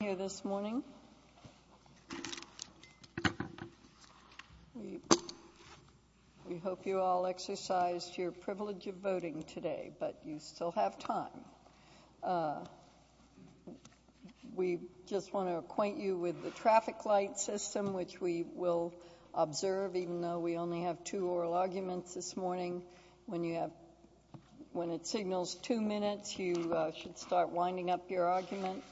here this morning. We hope you all exercised your privilege of voting today, but you still have time. We just want to acquaint you with the traffic light system, which we will observe even though we only have two oral arguments this morning. When it signals two minutes, you should start winding up your argument,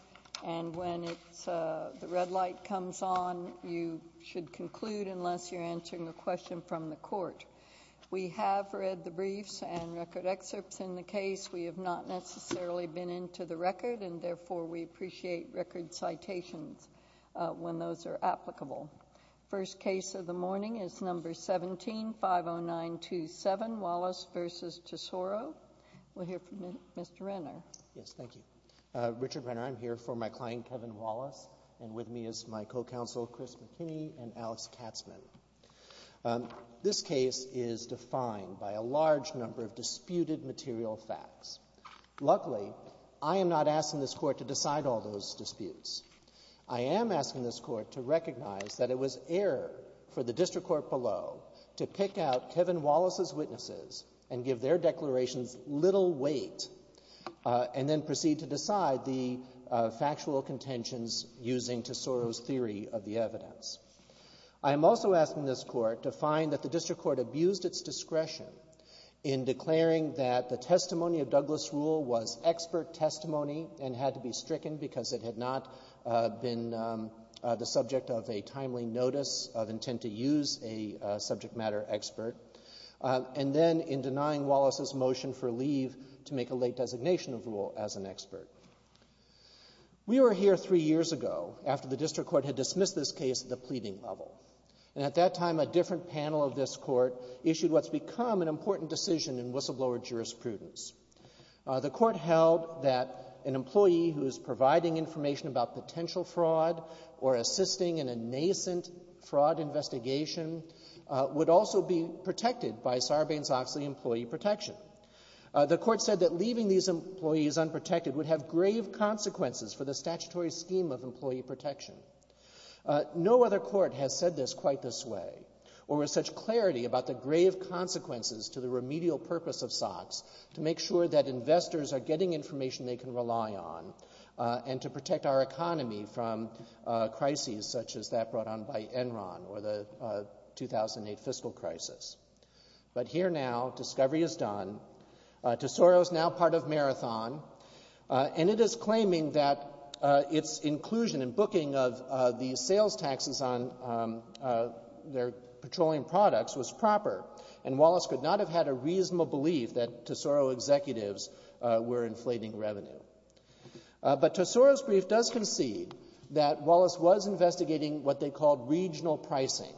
and when the red light comes on, you should conclude unless you're answering a question from the court. We have read the briefs and record excerpts in the case. We have not necessarily been into the record, and therefore we appreciate record citations when those are applicable. First case of the morning is number 17, 50927 Kevin Wallace v. Tesoro. We'll hear from Mr. Renner. Yes, thank you. Richard Renner, I'm here for my client Kevin Wallace, and with me is my co-counsel Chris McKinney and Alex Katzmann. This case is defined by a large number of disputed material facts. Luckily, I am not asking this Court to decide all those disputes. I am asking this Court to recognize that it was error for the district court below to pick out Kevin Wallace's witnesses and give their declarations little weight and then proceed to decide the factual contentions using Tesoro's theory of the evidence. I am also asking this Court to find that the district court abused its discretion in declaring that the testimony of Douglas Rule was expert testimony and had to be stricken because it had not been the subject of a timely notice of intent to use a subject matter expert, and then in denying Wallace's motion for leave to make a late designation of Rule as an expert. We were here three years ago after the district court had dismissed this case at the pleading level, and at that time a different panel of this Court issued what's become an important decision in whistleblower jurisprudence. The Court held that an employee who is providing information about potential fraud or assisting in a nascent fraud investigation would also be protected by Sarbanes-Oxley employee protection. The Court said that leaving these employees unprotected would have grave consequences for the statutory scheme of employee protection. No other court has said this quite this way or with such clarity about the grave consequences to the remedial purpose of SOX to make sure that investors are getting information they need to protect our economy from crises such as that brought on by Enron or the 2008 fiscal crisis. But here now, discovery is done. Tesoro is now part of Marathon, and it is claiming that its inclusion in booking of the sales taxes on their petroleum products was proper, and Wallace could not have had a reasonable belief that Tesoro executives were inflating revenue. But Tesoro's brief does concede that Wallace was investigating what they called regional pricing,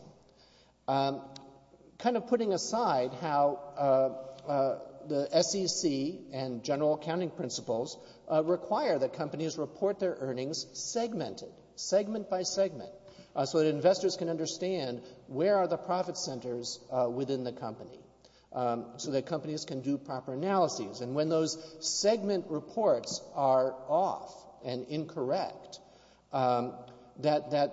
kind of putting aside how the SEC and general accounting principles require that companies report their earnings segmented, segment by segment, so that investors can understand where are the profit centers within the company, so that companies can do proper analysis, and when those segment reports are off and incorrect, that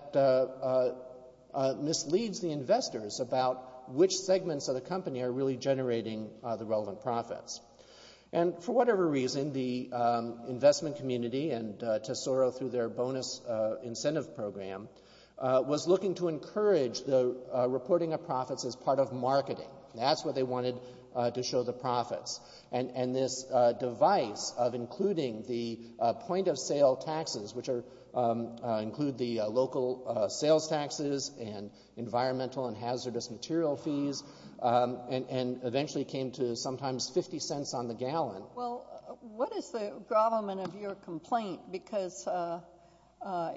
misleads the investors about which segments of the company are really generating the relevant profits. And for whatever reason, the investment community and Tesoro through their bonus incentive program was looking to encourage the reporting of profits as part of marketing. That's what they wanted to show the profits. And this device of including the point of sale taxes, which include the local sales taxes and environmental and hazardous material fees, and eventually came to sometimes 50 cents on the gallon. Well, what is the gravamen of your complaint? Because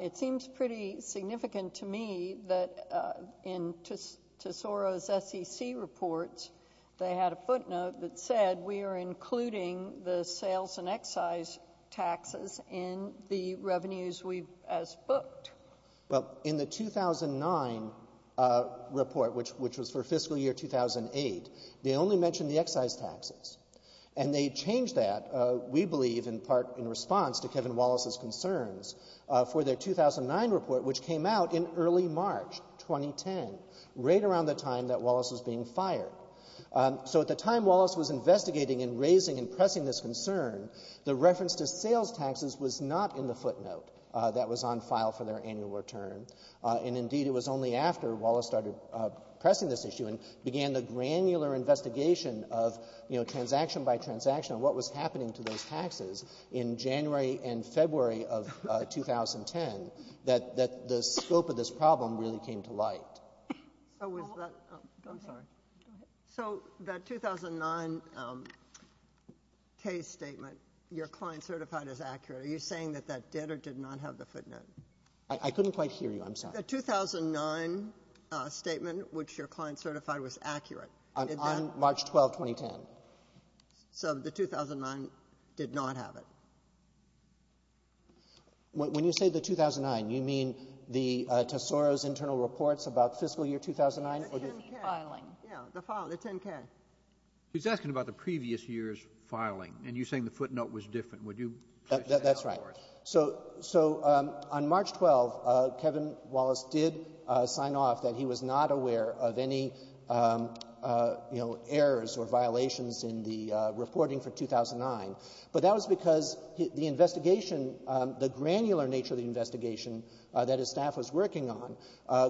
it seems pretty significant to me that in Tesoro's SEC reports, they had a footnote that said, we are including the sales and excise taxes in the revenues we've, as booked. Well in the 2009 report, which was for fiscal year 2008, they only mentioned the excise taxes. And they changed that, we believe, in part in response to Kevin Wallace's concerns, for their 2009 report, which came out in early March 2010, right around the time that Wallace was being fired. So at the time Wallace was investigating and raising and pressing this concern, the reference to sales taxes was not in the footnote that was on file for their annual return. And indeed, it was only after Wallace started pressing this issue and began the granular investigation of transaction by transaction, what was happening to those by 2010, that the scope of this problem really came to light. So was that, I'm sorry. So that 2009 case statement, your client certified as accurate, are you saying that that did or did not have the footnote? I couldn't quite hear you, I'm sorry. The 2009 statement, which your client certified was accurate. On March 12, 2010. So the 2009 did not have it. When you say the 2009, you mean the Tesoro's internal reports about fiscal year 2009? The 10-K. Filing. Yeah, the 10-K. He's asking about the previous year's filing, and you're saying the footnote was different. Would you please say that for us? That's right. So on March 12, Kevin Wallace did sign off that he was not aware of any errors or violations in the reporting for 2009, but that was because the investigation, the granular nature of the investigation that his staff was working on,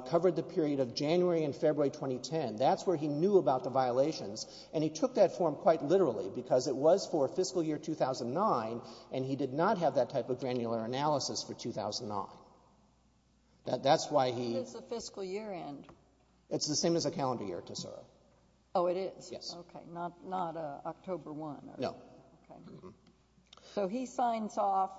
covered the period of January and February 2010. That's where he knew about the violations, and he took that form quite literally, because it was for fiscal year 2009, and he did not have that type of granular analysis for 2009. That's why he... What is the fiscal year end? It's the same as a calendar year, Tesoro. Oh, it is? Yes. Okay, not October 1. No. Okay. So he signs off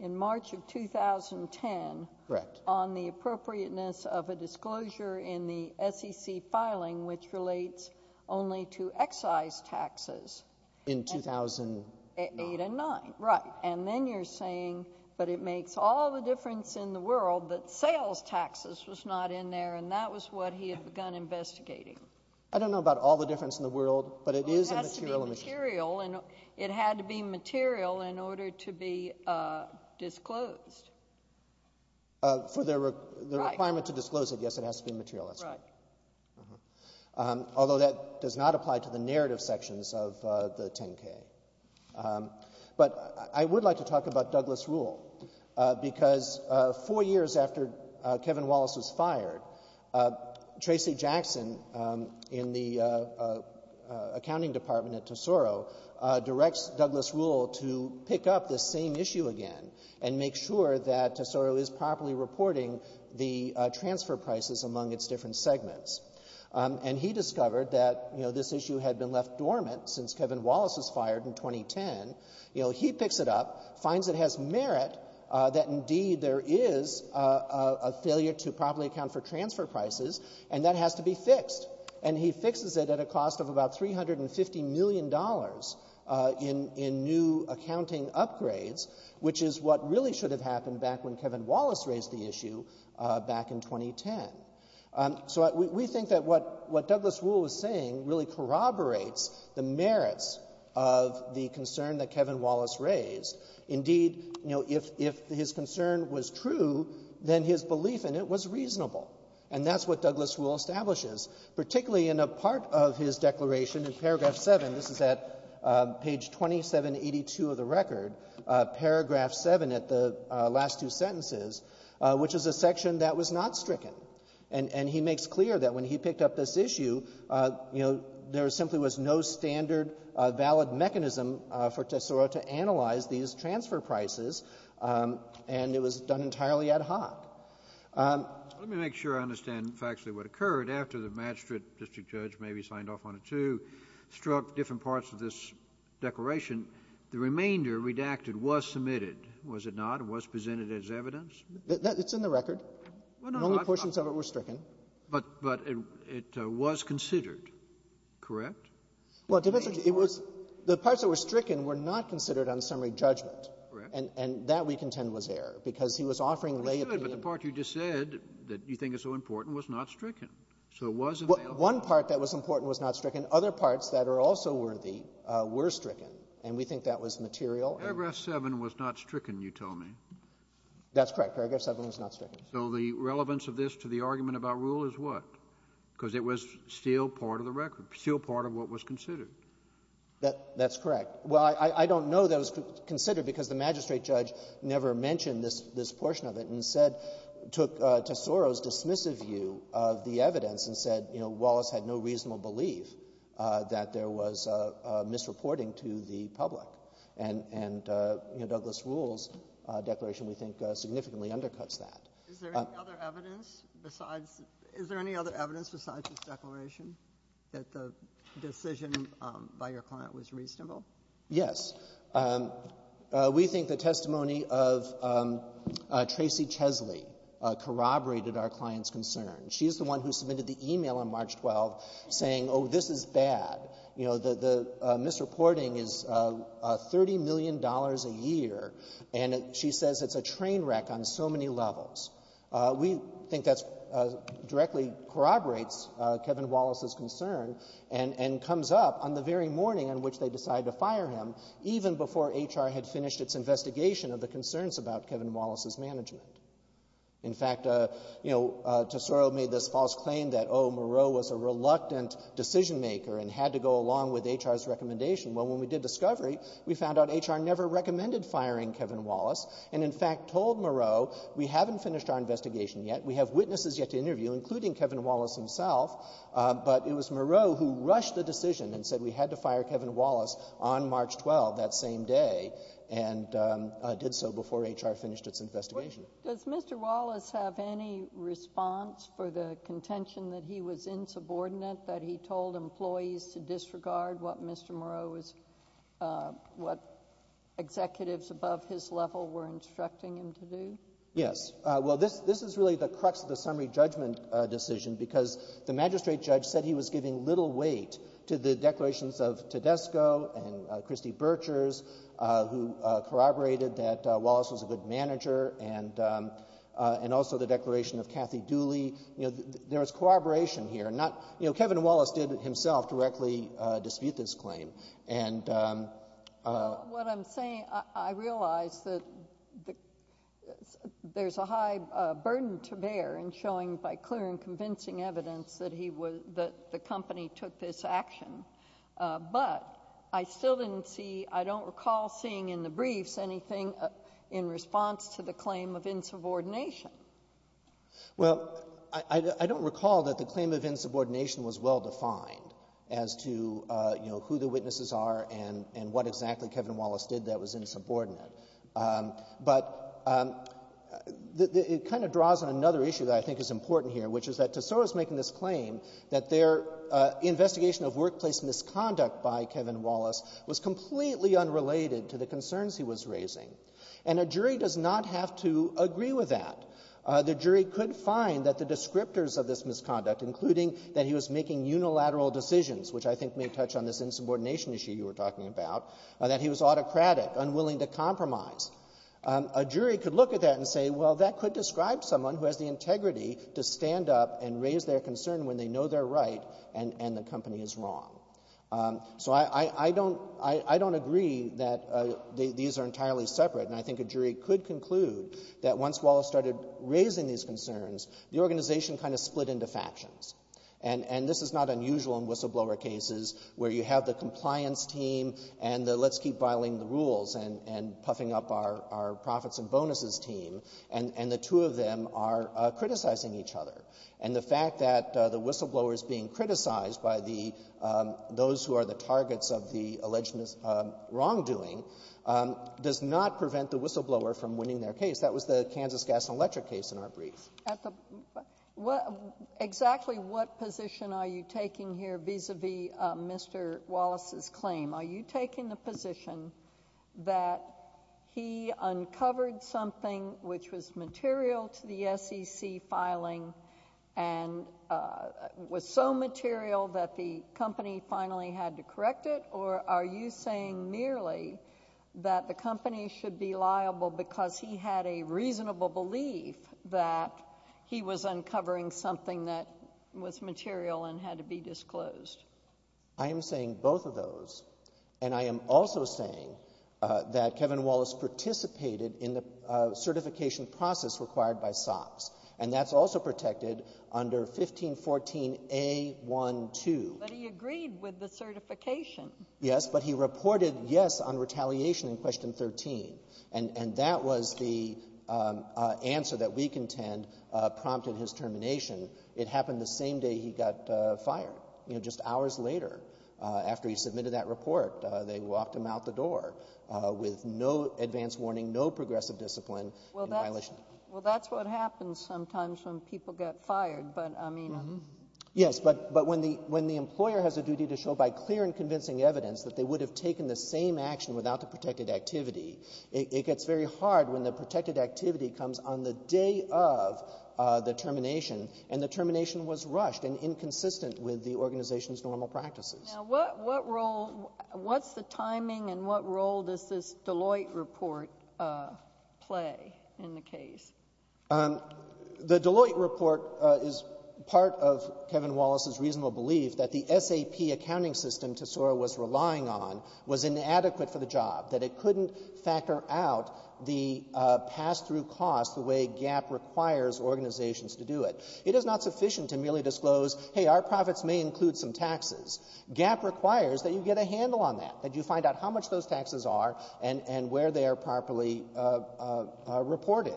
in March of 2010... Correct. ...on the appropriateness of a disclosure in the SEC filing, which relates only to excise taxes. In 2009. 2008 and 2009, right. And then you're saying, but it makes all the difference in the world that sales taxes was not in there, and that was what he had begun investigating. I don't know about all the difference in the world, but it is a material investigation. It has to be material, and it had to be material in order to be disclosed. For the requirement to disclose it, yes, it has to be material. Right. Although that does not apply to the narrative sections of the 10-K. But I would like to Kevin Wallace was fired. Tracy Jackson in the accounting department at Tesoro directs Douglas Rule to pick up the same issue again and make sure that Tesoro is properly reporting the transfer prices among its different segments. And he discovered that, you know, this issue had been left dormant since Kevin Wallace was fired in 2010. You know, he picks it up, finds it has merit that, indeed, there is a failure to properly account for transfer prices, and that has to be fixed. And he fixes it at a cost of about $350 million in new accounting upgrades, which is what really should have happened back when Kevin Wallace raised the issue back in 2010. So we think that what Douglas Rule was saying really corroborates the merits of the concern that Kevin Wallace raised. Indeed, you know, if his concern was true, then his belief in it was reasonable. And that's what Douglas Rule establishes, particularly in a part of his declaration in paragraph 7. This is at page 2782 of the record, paragraph 7 at the last two sentences, which is a section that was not stricken. And he makes clear that when he picked up this issue, you know, there simply was no standard valid mechanism for TSORA to analyze these transfer prices, and it was done entirely ad hoc. Let me make sure I understand factually what occurred. After the magistrate district judge maybe signed off on it, too, struck different parts of this declaration, the remainder redacted was submitted, was it not? It was presented as evidence? It's in the record. Well, no. Only portions of it were stricken. But it was considered correct? Well, defense attorney, it was the parts that were stricken were not considered on summary judgment. Correct. And that, we contend, was error, because he was offering lay opinion. He was, but the part you just said that you think is so important was not stricken. So it was available. One part that was important was not stricken. Other parts that are also worthy were stricken, and we think that was material. Paragraph 7 was not stricken, you tell me. That's correct. Paragraph 7 was not stricken. So the relevance of this to the argument about Rule is what? Because it was still part of the record, still part of what was considered. That's correct. Well, I don't know that it was considered because the magistrate judge never mentioned this portion of it and said, took Tesoro's dismissive view of the evidence and said, you know, Wallace had no reasonable belief that there was misreporting to the public. And, you know, Douglas Rule's declaration, we think, significantly undercuts that. Is there any other evidence besides this declaration that the decision by your client was reasonable? Yes. We think the testimony of Tracy Chesley corroborated our client's concern. She's the one who submitted the e-mail on March 12th saying, oh, this is bad. You know, the misreporting is $30 million a year, and she says it's a train wreck on so many levels. We think that directly corroborates Kevin Wallace's concern and comes up on the very morning on which they decided to fire him, even before HR had finished its investigation of the concerns about Kevin Wallace's management. In fact, you know, Tesoro made this false claim that, oh, Moreau was a reluctant decision maker and had to go along with HR's recommendation. Well, when we did discovery, we found out HR never recommended firing Kevin Wallace and, in fact, told Moreau we haven't finished our investigation yet. We have witnesses yet to interview, including Kevin Wallace himself, but it was Moreau who rushed the decision and said we had to fire Kevin Wallace on March 12th, that same day, and did so before HR finished its investigation. Does Mr. Wallace have any response for the contention that he was insubordinate, that he told employees to disregard what Mr. Moreau was, what executives above his level were instructing him to do? Yes. Well, this is really the crux of the summary judgment decision because the magistrate judge said he was giving little weight to the declarations of Tedesco and Christy Birchers, who corroborated that Wallace was a good manager, and also the declaration of Kathy Dooley. There was corroboration here. Kevin Wallace did himself directly dispute this claim. What I'm saying, I realize that there's a high burden to bear in showing by clear and convincing evidence that the company took this action, but I still didn't see, I don't recall seeing in the briefs anything in response to the claim of insubordination. Well, I don't recall that the claim of insubordination was well defined as to who the witnesses are and what exactly Kevin Wallace did that was insubordinate, but it kind of draws on another issue that I think is important here, which is that Tesoro's making this claim that their investigation of workplace misconduct by Kevin Wallace was completely unrelated to the concerns he was raising, and a jury does not have to agree with that. The jury could find that the descriptors of this misconduct, including that he was making unilateral decisions, which I think may touch on this insubordination issue you were talking about, that he was autocratic, unwilling to compromise. A jury could look at that and say, well, that could describe someone who has the integrity to stand up and raise their concern when they these are entirely separate, and I think a jury could conclude that once Wallace started raising these concerns, the organization kind of split into factions. And this is not unusual in whistleblower cases where you have the compliance team and the let's keep violating the rules and puffing up our profits and bonuses team, and the two of them are criticizing each other. And the fact that the whistleblower is being criticized by the those who are the targets of the alleged wrongdoing does not prevent the whistleblower from winning their case. That was the Kansas Gas and Electric case in our brief. At the what exactly what position are you taking here vis-a-vis Mr. Wallace's claim? Are you taking the position that he uncovered something which was material to the SEC filing and was so material that the company finally had to correct it, or are you saying merely that the company should be liable because he had a reasonable belief that he was uncovering something that was material and had to be disclosed? I am saying both of those, and I am also saying that Kevin Wallace participated in the 1514A12. But he agreed with the certification. Yes, but he reported yes on retaliation in Question 13, and that was the answer that we contend prompted his termination. It happened the same day he got fired, you know, just hours later after he submitted that report. They walked him out the door with no advance warning, no progressive discipline in violation. Well, that's what happens sometimes when people get fired. Yes, but when the employer has a duty to show by clear and convincing evidence that they would have taken the same action without the protected activity, it gets very hard when the protected activity comes on the day of the termination, and the termination was rushed and inconsistent with the organization's normal practices. Now, what role, what's the timing and what role does this Deloitte report play in the case? The Deloitte report is part of Kevin Wallace's reasonable belief that the SAP accounting system Tesoro was relying on was inadequate for the job, that it couldn't factor out the pass-through cost the way GAAP requires organizations to do it. It is not sufficient to merely disclose, hey, our profits may include some taxes. GAAP requires that you get a handle on that, that you find out how much those taxes are and where they are properly reported.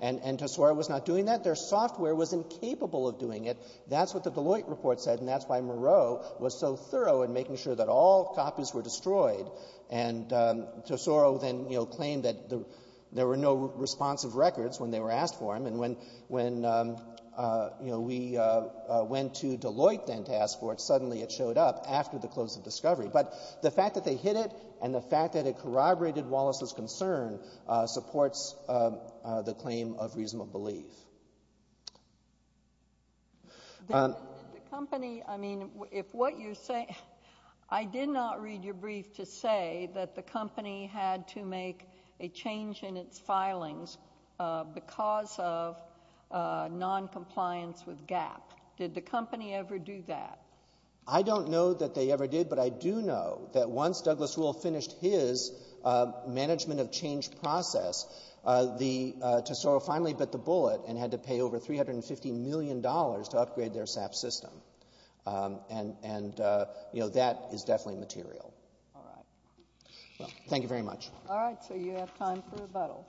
And Tesoro was not doing that. Their software was incapable of doing it. That's what the Deloitte report said, and that's why Moreau was so thorough in making sure that all copies were destroyed. And Tesoro then, you know, claimed that there were no responsive records when they were asked for them, and when, you know, we went to Deloitte then to ask for it, suddenly it showed up after the close of discovery. But the fact that they hid it and the fact that it corroborated Wallace's concern supports the claim of reasonable belief. The company, I mean, if what you say, I did not read your brief to say that the company had to make a change in its filings because of noncompliance with GAAP. Did the company ever do that? I don't know that they ever did, but I do know that once Douglas Rule finished his management of change process, Tesoro finally bit the bullet and had to pay over $350 million to upgrade their SAP system. And, you know, that is definitely material. All right. Well, thank you very much. All right. So you have time for rebuttal.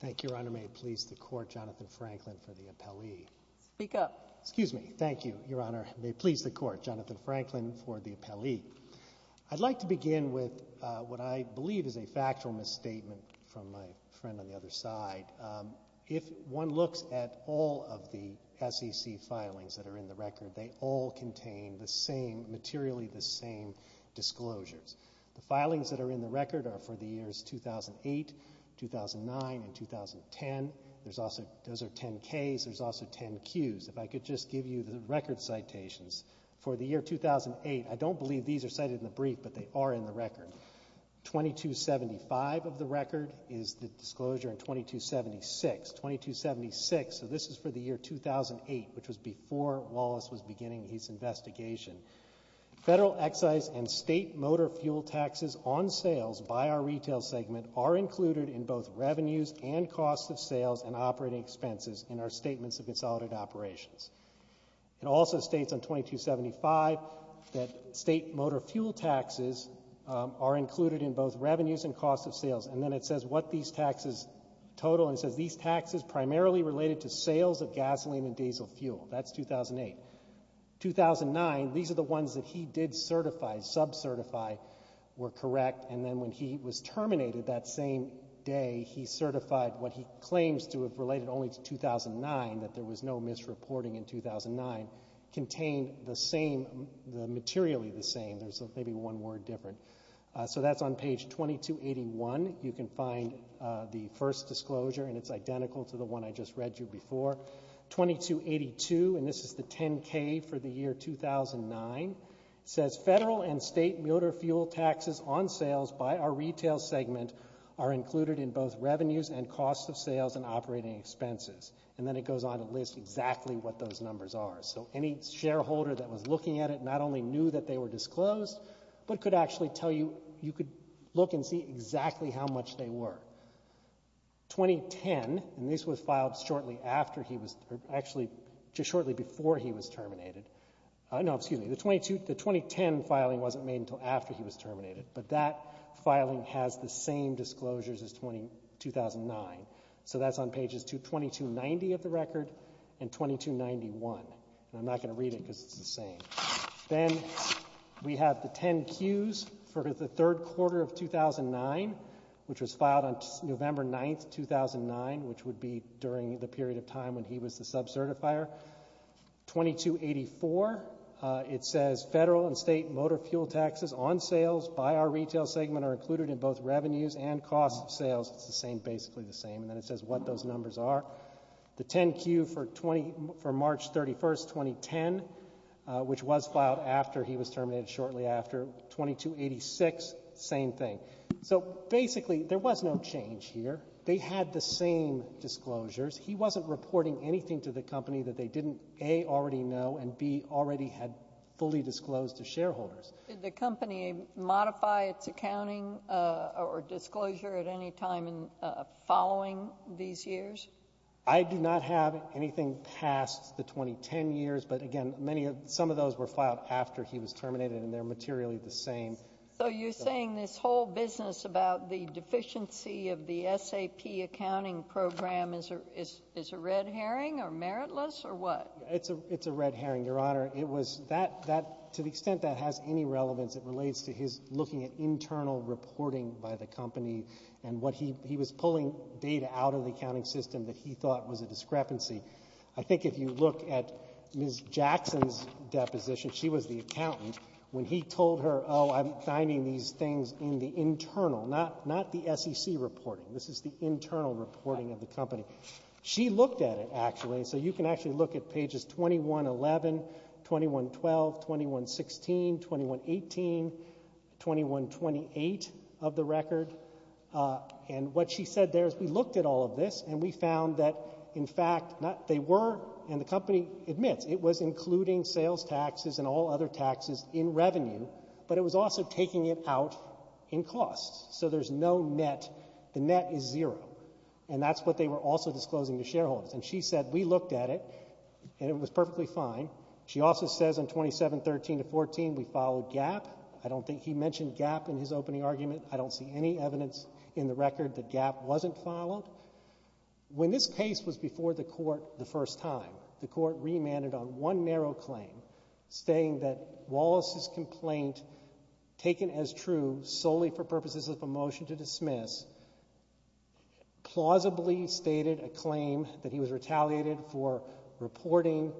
Thank you, Your Honor. May it please the Court, Jonathan Franklin for the appellee. Speak up. Excuse me. Thank you, Your Honor. May it please the Court, Jonathan Franklin for the appellee. I'd like to begin with what I believe is a factual misstatement from my friend on materially the same disclosures. The filings that are in the record are for the years 2008, 2009, and 2010. Those are 10-Ks. There's also 10-Qs. If I could just give you the record citations for the year 2008. I don't believe these are cited in the brief, but they are in the record. 2275 of the record is the disclosure in 2276. 2276, so this is for the year 2008, which was before Wallace was beginning his investigation. Federal excise and state motor fuel taxes on sales by our retail segment are included in both revenues and cost of sales and operating expenses in our Statements of Consolidated Operations. It also states on 2275 that state motor fuel taxes are included in both revenues and cost of sales. And then it says what these taxes total. And it says these taxes primarily related to sales of motor fuel. That's 2008. 2009, these are the ones that he did certify, sub-certify, were correct. And then when he was terminated that same day, he certified what he claims to have related only to 2009, that there was no misreporting in 2009, contained the same, materially the same. There's maybe one word different. So that's on page 2281. You can find the first disclosure, and it's identical to the one I just read you before. 2282, and this is the 10K for the year 2009, says federal and state motor fuel taxes on sales by our retail segment are included in both revenues and cost of sales and operating expenses. And then it goes on to list exactly what those numbers are. So any shareholder that was looking at it not only knew that they were disclosed, but could actually tell you, you could look and see exactly how much they were. 2010, and this was filed shortly after he was, actually just shortly before he was terminated, no, excuse me, the 2010 filing wasn't made until after he was terminated. But that filing has the same disclosures as 2009. So that's on pages 2290 of the record and 2291. And I'm not going to read it because it's the same. Then we have the 10Qs for the third quarter of 2009, which was filed on November 9th, 2009, which would be during the period of time when he was the sub certifier. 2284, it says federal and state motor fuel taxes on sales by our retail segment are included in both revenues and cost of sales. It's the same, basically the same. And then it says what those numbers are. The 10Q for March 31st, 2010, which was filed after he was terminated shortly after, 2286, same thing. So basically there was no change here. They had the same disclosures. He wasn't reporting anything to the company that they didn't, A, already know, and B, already had fully disclosed to shareholders. Did the company modify its accounting or disclosure at any time following these years? I do not have anything past the 2010 years. But again, some of those were filed after he was terminated and they're materially the same. So you're saying this whole business about the deficiency of the SAP accounting program is a red herring or meritless or what? It's a red herring, Your Honor. It was that, to the extent that has any relevance, it relates to his looking at internal reporting by the company and what he was pulling data out of the accounting system that he thought was a discrepancy. I think if you look at Ms. Jackson's deposition, she was the accountant, when he told her, oh, I'm finding these things in the internal, not the SEC reporting. This is the internal reporting of the company. She looked at it, actually. So you can actually look at pages 2111, 2112, 2116, 2118, 2128 of the record. And what she said there is we looked at all of this and we found that, in fact, they were, and the company admits, it was including sales taxes and all other taxes in revenue, but it was also taking it out in costs. So there's no net. The net is also disclosing to shareholders. And she said, we looked at it and it was perfectly fine. She also says on 2713 to 14, we followed GAP. I don't think he mentioned GAP in his opening argument. I don't see any evidence in the record that GAP wasn't followed. When this case was before the Court the first time, the Court remanded on one narrow claim, saying that Wallace's complaint, taken as true solely for purposes of a motion to dismiss, plausibly stated a claim that he was retaliated for reporting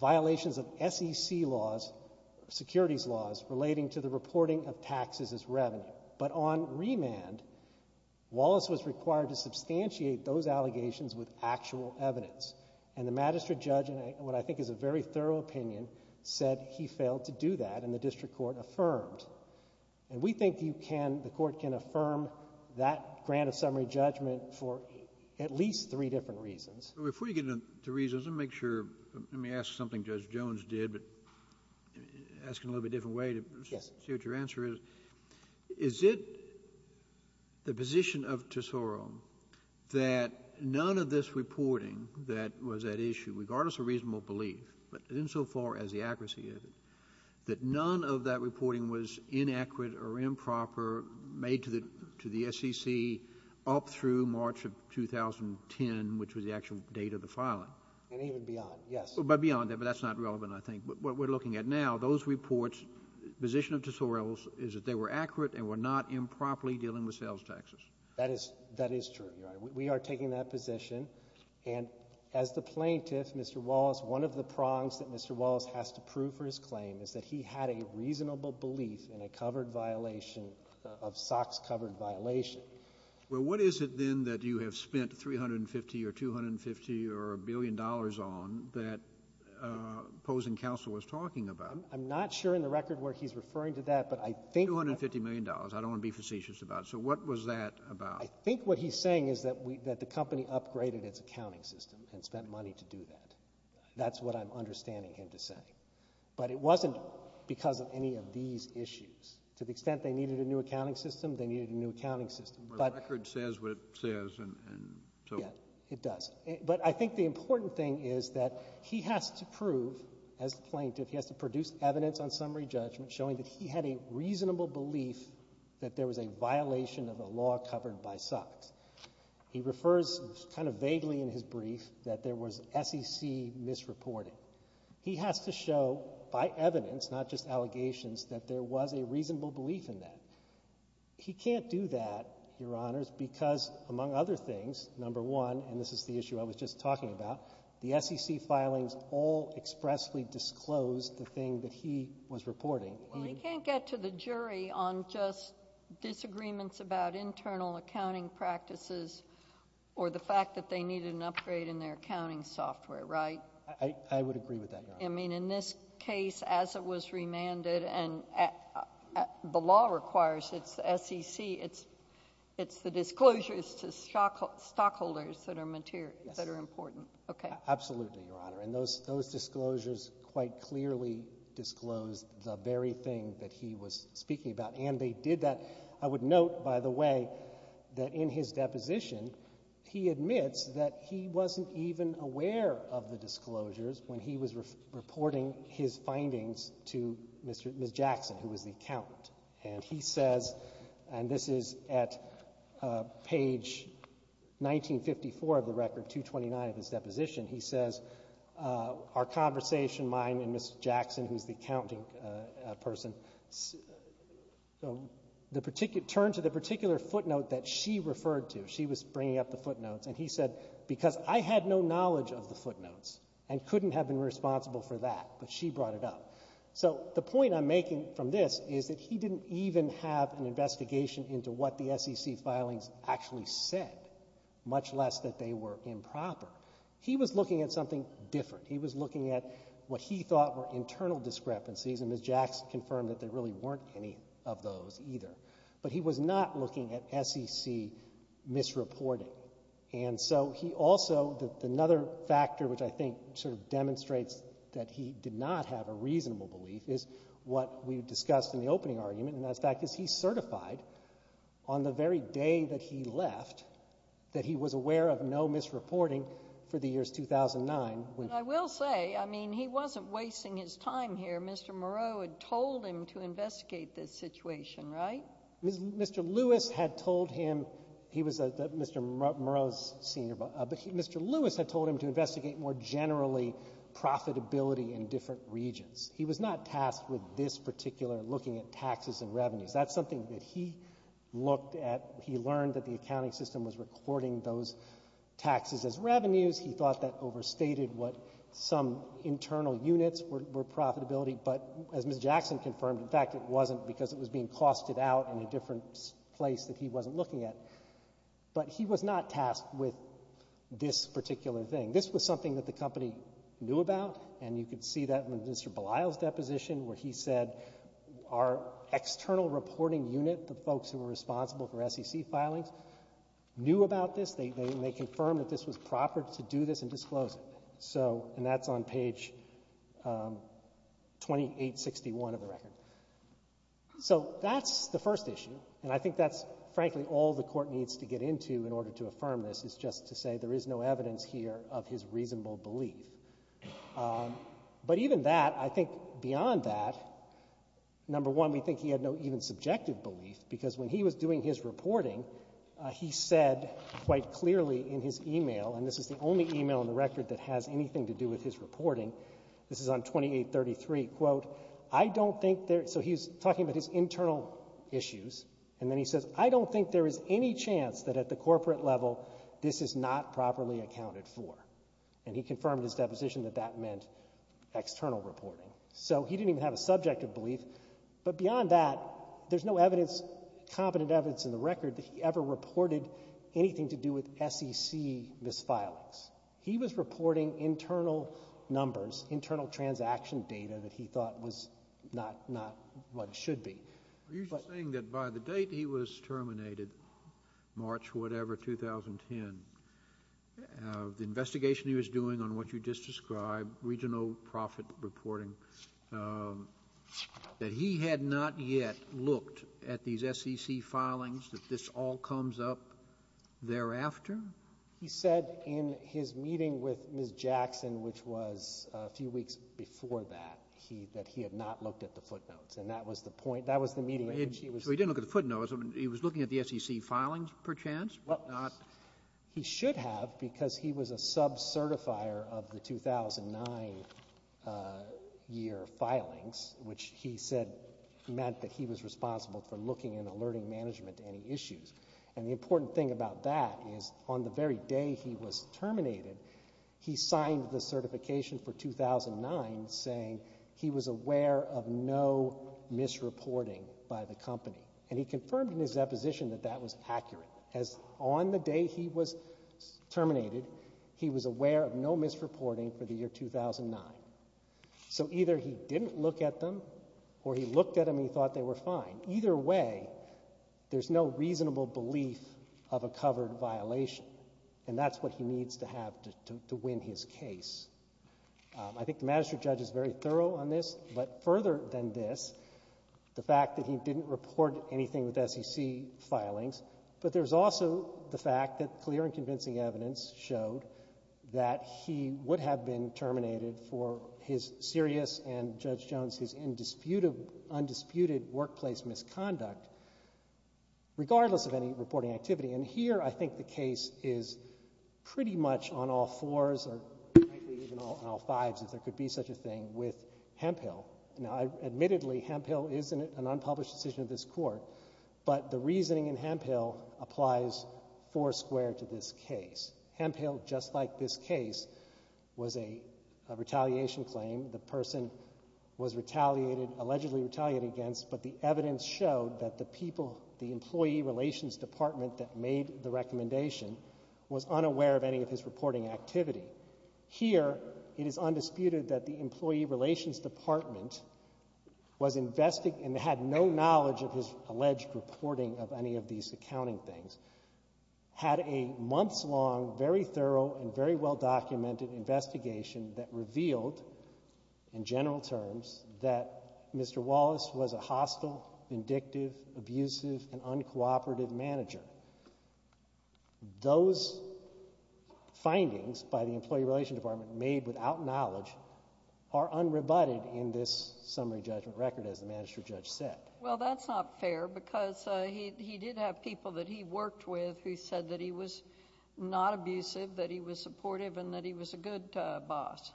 violations of SEC laws, securities laws, relating to the reporting of taxes as revenue. But on remand, Wallace was required to substantiate those allegations with actual evidence. And the Magistrate Judge, in what I think is a very thorough opinion, said he failed to do that and the District Court affirmed. And we think you can, the Court can affirm that grant of summary judgment for at least three different reasons. But before you get into reasons, let me make sure, let me ask something Judge Jones did, but ask in a little bit different way to see what your answer is. Yes. Is it the position of Tesoro that none of this reporting that was at issue, regardless of reasonable belief, but insofar as the accuracy is, that none of that reporting was inaccurate or improper made to the SEC up through March of 2010, which was the actual date of the filing? And even beyond, yes. But beyond that, but that's not relevant, I think. What we're looking at now, those reports, position of Tesoro is that they were accurate and were not improperly dealing with sales taxes. That is true. We are taking that position. And as the plaintiff, Mr. Wallace, one of the prongs that Mr. Wallace has to prove for his claim is that he had a reasonable belief in a covered violation of SOX covered violation. Well, what is it then that you have spent $350 or $250 or a billion dollars on that opposing counsel was talking about? I'm not sure in the record where he's referring to that, but I think that $350 million. I don't want to be facetious about it. So what was that about? I think what he's saying is that the company upgraded its accounting system and spent money to do that. That's what I'm understanding him to say. But it wasn't because of any of these issues. To the extent they needed a new accounting system, they needed a new accounting system. But the record says what it says and so forth. Yes, it does. But I think the important thing is that he has to prove, as the plaintiff, he has to produce evidence on summary judgment showing that he had a reasonable belief that there was a violation of a law covered by SOX. He refers kind of vaguely in his brief that there was SEC misreporting. He has to show by evidence, not just allegations, that there was a reasonable belief in that. He can't do that, Your Honors, because, among other things, number one, and this is the issue I was just talking about, the SEC filings all expressly disclosed the thing that he was reporting. Well, he can't get to the jury on just disagreements about internal accounting practices or the fact that they needed an upgrade in their accounting software, right? I would agree with that, Your Honor. I mean, in this case, as it was remanded and the law requires, it's SEC, it's the disclosures to stockholders that are important. Absolutely, Your Honor. And those disclosures quite clearly disclose the very thing that he was speaking about. And they did that, I would note, by the way, that in his deposition, he admits that he wasn't even aware of the disclosures when he was reporting his findings to Ms. Jackson, who was the accountant. And he says, and this is at page 1954 of the record, 229 of his person, so turn to the particular footnote that she referred to. She was bringing up the footnotes. And he said, because I had no knowledge of the footnotes and couldn't have been responsible for that, but she brought it up. So the point I'm making from this is that he didn't even have an investigation into what the SEC filings actually said, much less that they were improper. He was looking at something different. He was looking at what he thought were misreports. And I must confirm that there really weren't any of those either. But he was not looking at SEC misreporting. And so he also, another factor which I think sort of demonstrates that he did not have a reasonable belief is what we discussed in the opening argument, and that fact is he certified on the very day that he left that he was aware of no misreporting for the years 2009. But I will say, I mean, he wasn't wasting his time here. Mr. Moreau had told him to investigate this situation, right? Mr. Lewis had told him, he was Mr. Moreau's senior, but Mr. Lewis had told him to investigate more generally profitability in different regions. He was not tasked with this particular looking at taxes and revenues. That's something that he looked at, he learned that the accounting system was recording those taxes as what some internal units were profitability, but as Ms. Jackson confirmed, in fact, it wasn't because it was being costed out in a different place that he wasn't looking at. But he was not tasked with this particular thing. This was something that the company knew about, and you could see that in Mr. Belisle's deposition where he said our external reporting unit, the folks who were responsible for SEC filings, knew about this. They confirmed that this was proper to do this and disclose it. So, and that's on page 2861 of the record. So that's the first issue, and I think that's frankly all the Court needs to get into in order to affirm this, is just to say there is no evidence here of his reasonable belief. But even that, I think beyond that, number one, we think he had no even subjective belief, because when he was doing his reporting, he said quite clearly in his email, and this is the only email in the record that has anything to do with his reporting, this is on 2833, quote, I don't think there so he's talking about his internal issues, and then he says, I don't think there is any chance that at the corporate level, this is not properly accounted for. And he confirmed in his deposition that that meant external reporting. So he didn't even have a subjective belief, but beyond that, there's no evidence, competent evidence in the record that he ever reported anything to do with SEC misfilings. He was reporting internal numbers, internal transaction data that he thought was not what it should be. You're saying that by the date he was terminated, March whatever, 2010, the investigation he was doing on what you just described, regional profit reporting, that he had not yet looked at these SEC filings, that this all comes up thereafter? He said in his meeting with Ms. Jackson, which was a few weeks before that, that he had not looked at the footnotes, and that was the point, that was the meeting in which he was So he didn't look at the footnotes, he was looking at the SEC filings, perchance? He should have, because he was a sub-certifier of the 2009 year filings, which he said meant that he was responsible for looking and alerting management to any issues. And the important thing about that is, on the very day he was terminated, he signed the certification for 2009 saying he was aware of no misreporting by the company. And he confirmed in his deposition that that was accurate, as on the day he was terminated, he was aware of no misreporting for the year 2009. So either he didn't look at them, or he looked at them and he thought they were fine. Either way, there's no reasonable belief of a covered violation. And that's what he needs to have to win his case. I think the magistrate judge is very thorough on this, but further than this, the fact that he didn't report anything with SEC filings, but there's also the fact that clear and convincing evidence showed that he would have been terminated for his serious and Judge Jones' undisputed workplace misconduct, regardless of any reporting activity. And here I think the case is pretty much on all fours, or frankly even on all fours, and that's the interesting thing with Hemphill. Now admittedly, Hemphill is an unpublished decision of this court, but the reasoning in Hemphill applies foursquare to this case. Hemphill, just like this case, was a retaliation claim. The person was retaliated, allegedly retaliated against, but the evidence showed that the people, the employee relations department that made the case, the employee relations department was investigating, and had no knowledge of his alleged reporting of any of these accounting things, had a months-long, very thorough, and very well-documented investigation that revealed, in general terms, that Mr. Wallace was a hostile, vindictive, abusive, and uncooperative manager. Those findings by the employee relations department made without knowledge are unrebutted in this summary judgment record, as the magistrate judge said. Well, that's not fair, because he did have people that he worked with who said that he was not abusive, that he was supportive, and that he was a good boss.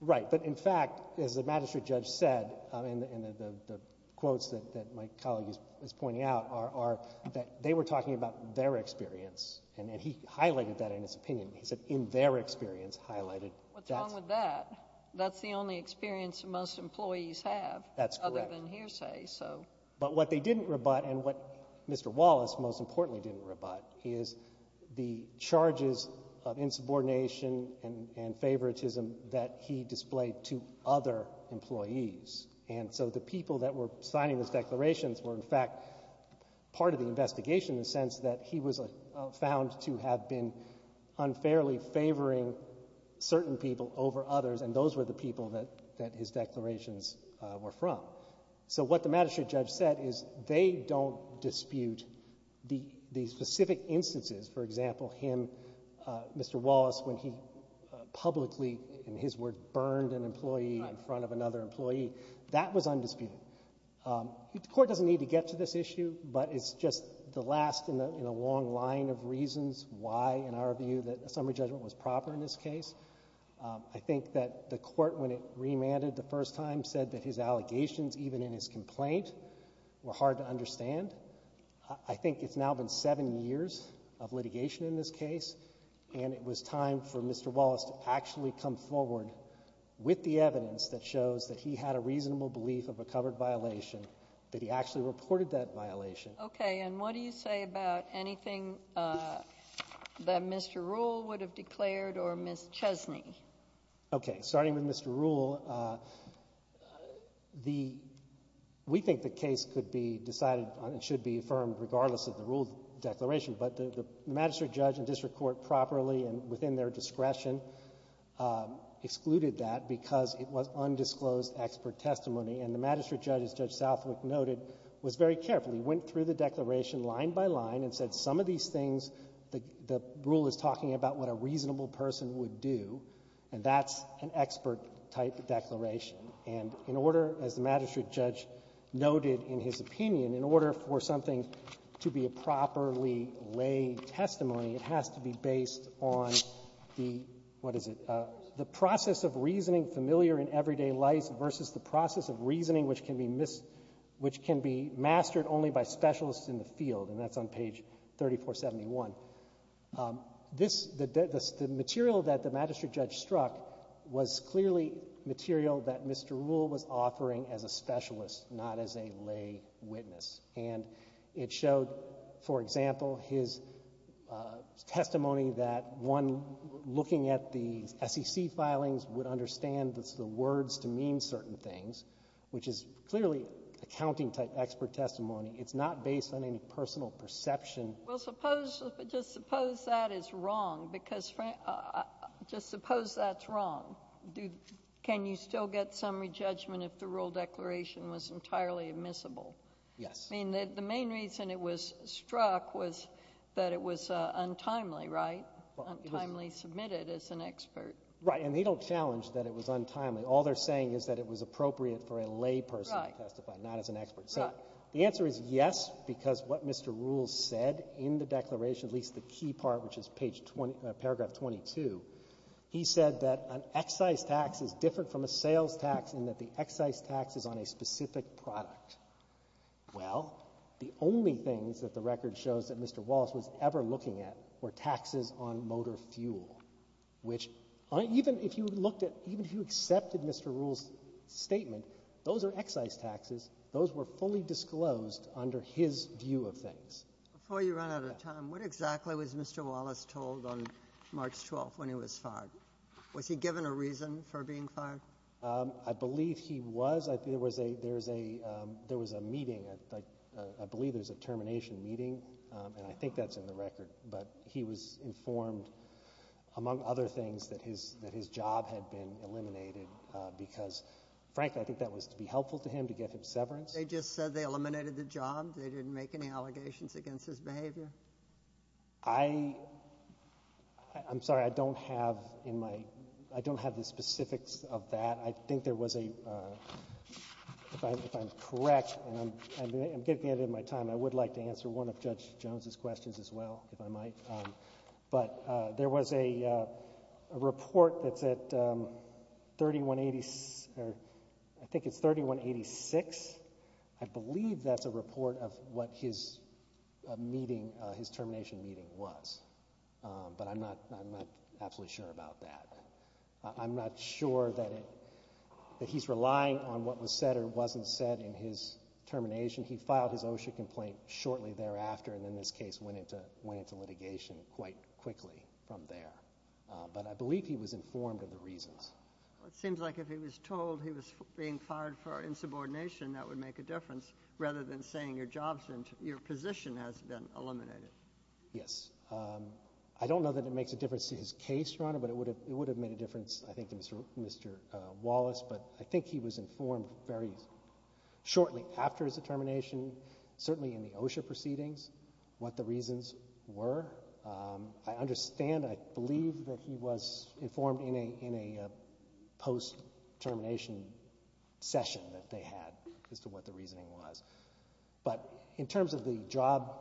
Right. But in fact, as the magistrate judge said, and the quotes that my colleague is pointing out, are that they were talking about their experience, and that's the only experience most employees have. That's correct. Other than hearsay, so. But what they didn't rebut, and what Mr. Wallace most importantly didn't rebut, is the charges of insubordination and favoritism that he displayed to other employees. And so the people that were signing those declarations were, in fact, part of the investigation in the sense that he was found to have been unfairly favoring certain people over others, and those were the people that his declarations were from. So what the magistrate judge said is they don't dispute the specific instances, for example, him, Mr. Wallace, when he publicly, in his word, burned an employee in front of another employee. That was undisputed. The court doesn't need to get to this issue, but it's just the last in a long line of reasons why, in our view, that a summary judgment was proper in this case. I think that the court, when it remanded the first time, said that his allegations, even in his complaint, were hard to understand. I think it's now been seven years of litigation in this case, and it was time for Mr. Wallace to actually come forward with the evidence that shows that he had a reasonable belief of a covered violation, that he actually reported that violation. Okay. And what do you say about anything that Mr. Ruhle would have declared or Ms. Chesney? Okay. Starting with Mr. Ruhle, the, we think the case could be decided and should be affirmed regardless of the rule declaration, but the magistrate judge and district court properly and within their discretion excluded that because it was undisclosed expert testimony. And the magistrate judge, as Judge Southwick noted, was very careful. He went through the declaration line by line and said some of these things, the rule is talking about what a reasonable person would do, and that's an expert-type declaration. And in order, as the magistrate judge noted in his opinion, in order for something to be a properly lay testimony, it has to be based on the, what is it, the process of reasoning familiar in everyday life versus the process of reasoning which can be mastered only by specialists in the field. And that's on page 3471. This, the material that the magistrate judge struck was clearly material that Mr. Ruhle used. It showed, for example, his testimony that one looking at the SEC filings would understand the words to mean certain things, which is clearly accounting-type expert testimony. It's not based on any personal perception. Well, suppose, just suppose that is wrong because, just suppose that's wrong. Can you still get summary judgment if the rule declaration was entirely admissible? Yes. I mean, the main reason it was struck was that it was untimely, right, untimely submitted as an expert. Right. And they don't challenge that it was untimely. All they're saying is that it was appropriate for a lay person to testify, not as an expert. Right. So the answer is yes, because what Mr. Ruhle said in the declaration, at least the key part, which is page 20, paragraph 22, he said that an excise tax is different from a sales tax in that the excise tax is on a specific product. Well, the only things that the record shows that Mr. Wallace was ever looking at were taxes on motor fuel, which even if you looked at, even if you accepted Mr. Ruhle's statement, those are excise taxes. Those were fully disclosed under his view of things. Before you run out of time, what exactly was Mr. Wallace told on March 12th when he was fired? Was he given a reason for being fired? I believe he was. There was a meeting, I believe there was a termination meeting, and I think that's in the record, but he was informed, among other things, that his job had been eliminated because, frankly, I think that was to be helpful to him, to get him severance. They just said they eliminated the job? They didn't make any allegations against his behavior? I'm sorry, I don't have in my, I don't have the specifics of that statement. I think there was a, if I'm correct, and I'm getting to the end of my time, I would like to answer one of Judge Jones' questions as well, if I might, but there was a report that's at 3186, I believe that's a report of what his meeting, his termination meeting was, but I'm not absolutely sure about that. I'm not sure that it, that he's relying on what was said or wasn't said in his termination. He filed his OSHA complaint shortly thereafter, and then this case went into litigation quite quickly from there, but I believe he was informed of the reasons. Well, it seems like if he was told he was being fired for insubordination, that would make a difference, rather than saying your job's, your position has been eliminated. Yes. I don't know that it makes a difference to his case, Your Honor, but it would have, it would have made a difference, I think, to Mr. Wallace, but I think he was informed very shortly after his termination, certainly in the OSHA proceedings, what the reasons were. I understand, I believe that he was informed in a, in a post-termination session that they had as to what the reasoning was, but in terms of the job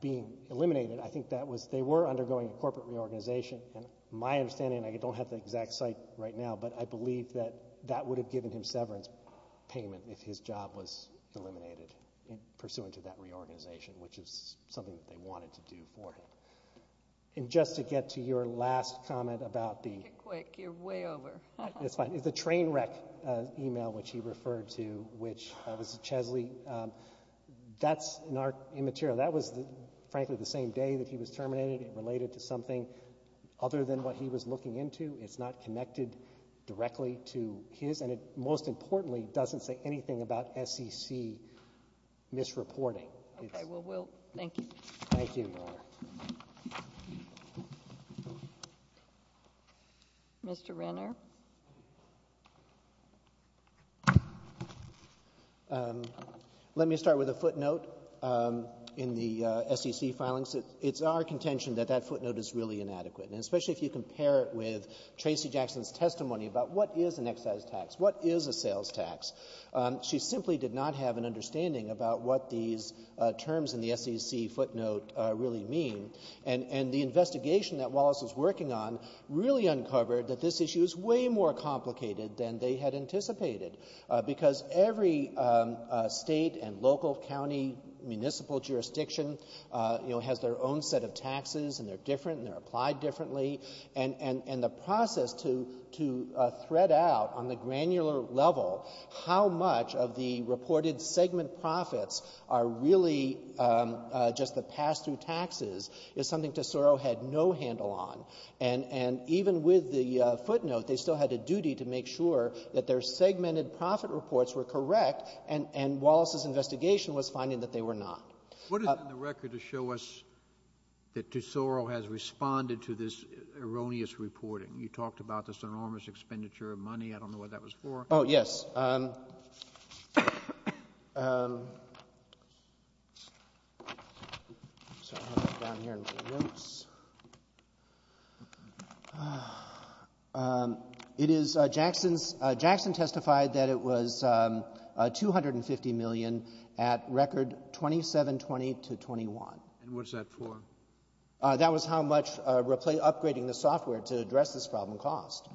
being eliminated, I think that was, they were undergoing a corporate reorganization, and my understanding, I don't have the exact site right now, but I believe that that would have given him severance payment if his job was eliminated, pursuant to that reorganization, which is something that they wanted to do for him, and just to get to your last comment about the- Make it quick. You're way over. It's fine. It's a train wreck email, which he referred to, which was Chesley. That's in our, in material. That was, frankly, the same day that he was terminated. It related to something other than what he was looking into. It's not connected directly to his, and it, most importantly, doesn't say anything about SEC misreporting. Okay. Well, we'll, thank you. Thank you, Your Honor. Mr. Renner. Let me start with a footnote in the SEC filings. It's our contention that that footnote is really inadequate, and especially if you compare it with Tracy Jackson's testimony about what is an excise tax, what is a sales tax. She simply did not have an understanding about what these terms in the SEC footnote really mean, and the investigation that Wallace was working on really uncovered that this issue is way more complicated than they had anticipated, because every state and local county municipal jurisdiction has their own set of taxes, and they're different, and they're applied differently, and the process to thread out on the granular level how much of the reported segment profits are really just the pass-through taxes is something Tesoro had no handle on. And even with the footnote, they still had a duty to make sure that their segmented profit reports were correct, and Wallace's investigation was finding that they were not. What is in the record to show us that Tesoro has responded to this erroneous reporting? You talked about this enormous expenditure of money. I don't know what that was for. Oh, yes. Jackson testified that it was $250 million at record $2720 to $21. And what's that for? That was how much upgrading the software to address this problem cost.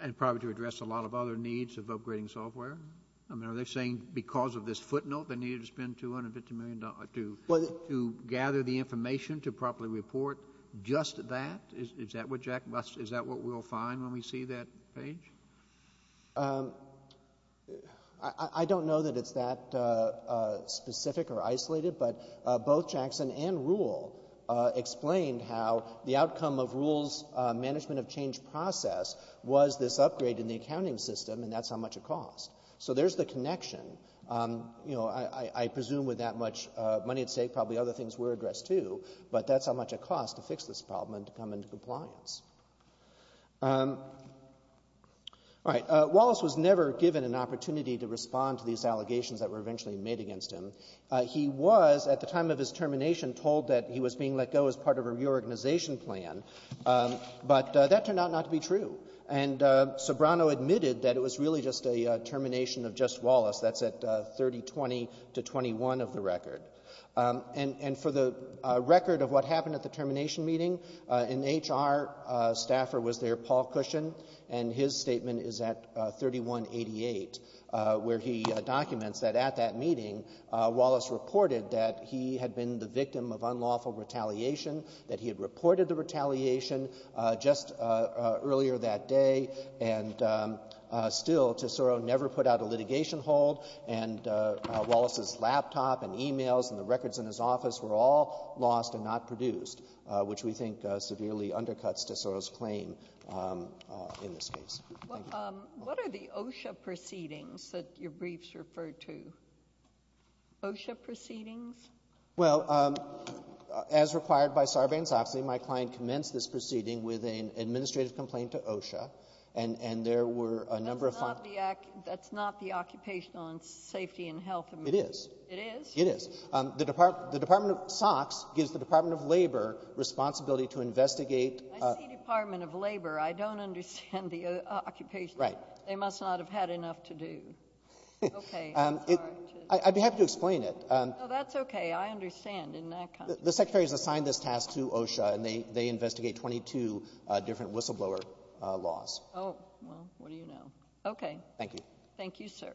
And probably to address a lot of other needs of upgrading software? I mean, are they saying because of this footnote they needed to spend $250 million to gather the information to properly report just that? Is that what we'll find when we see that page? I don't know that it's that specific or isolated, but both Jackson and Rule explained how the outcome of Rule's management of change process was this upgrade in the accounting system, and that's how much it cost. So there's the connection. I presume with that much money at stake, probably other things were addressed too, but that's how much it cost to fix this problem and to come into compliance. Wallace was never given an opportunity to respond to these allegations that were made. He was being let go as part of a reorganization plan, but that turned out not to be true. And Sobrano admitted that it was really just a termination of just Wallace. That's at $3020 to $321 of the record. And for the record of what happened at the termination meeting, an HR staffer was there, Paul Cushon, and his statement is at $3188, where he documents that at that meeting, Wallace reported that he had been the victim of unlawful retaliation, that he had reported the retaliation just earlier that day. And still, Tesoro never put out a litigation hold, and Wallace's laptop and e-mails and the records in his office were all lost and not produced, which we think severely undercuts Tesoro's claim in this case. Well, what are the OSHA proceedings that your briefs refer to? OSHA proceedings? Well, as required by Sarbanes-Oxley, my client commenced this proceeding with an administrative complaint to OSHA, and there were a number of funds That's not the Occupational and Safety and Health Administration. It is. It is? It is. The Department of SOX gives the Department of Labor responsibility to investigate I see Department of Labor. I don't understand the occupation. Right. They must not have had enough to do. Okay. I'd be happy to explain it. No, that's okay. I understand in that context. The Secretary has assigned this task to OSHA, and they investigate 22 different whistleblower laws. Oh, well, what do you know? Okay. Thank you. Thank you, sir.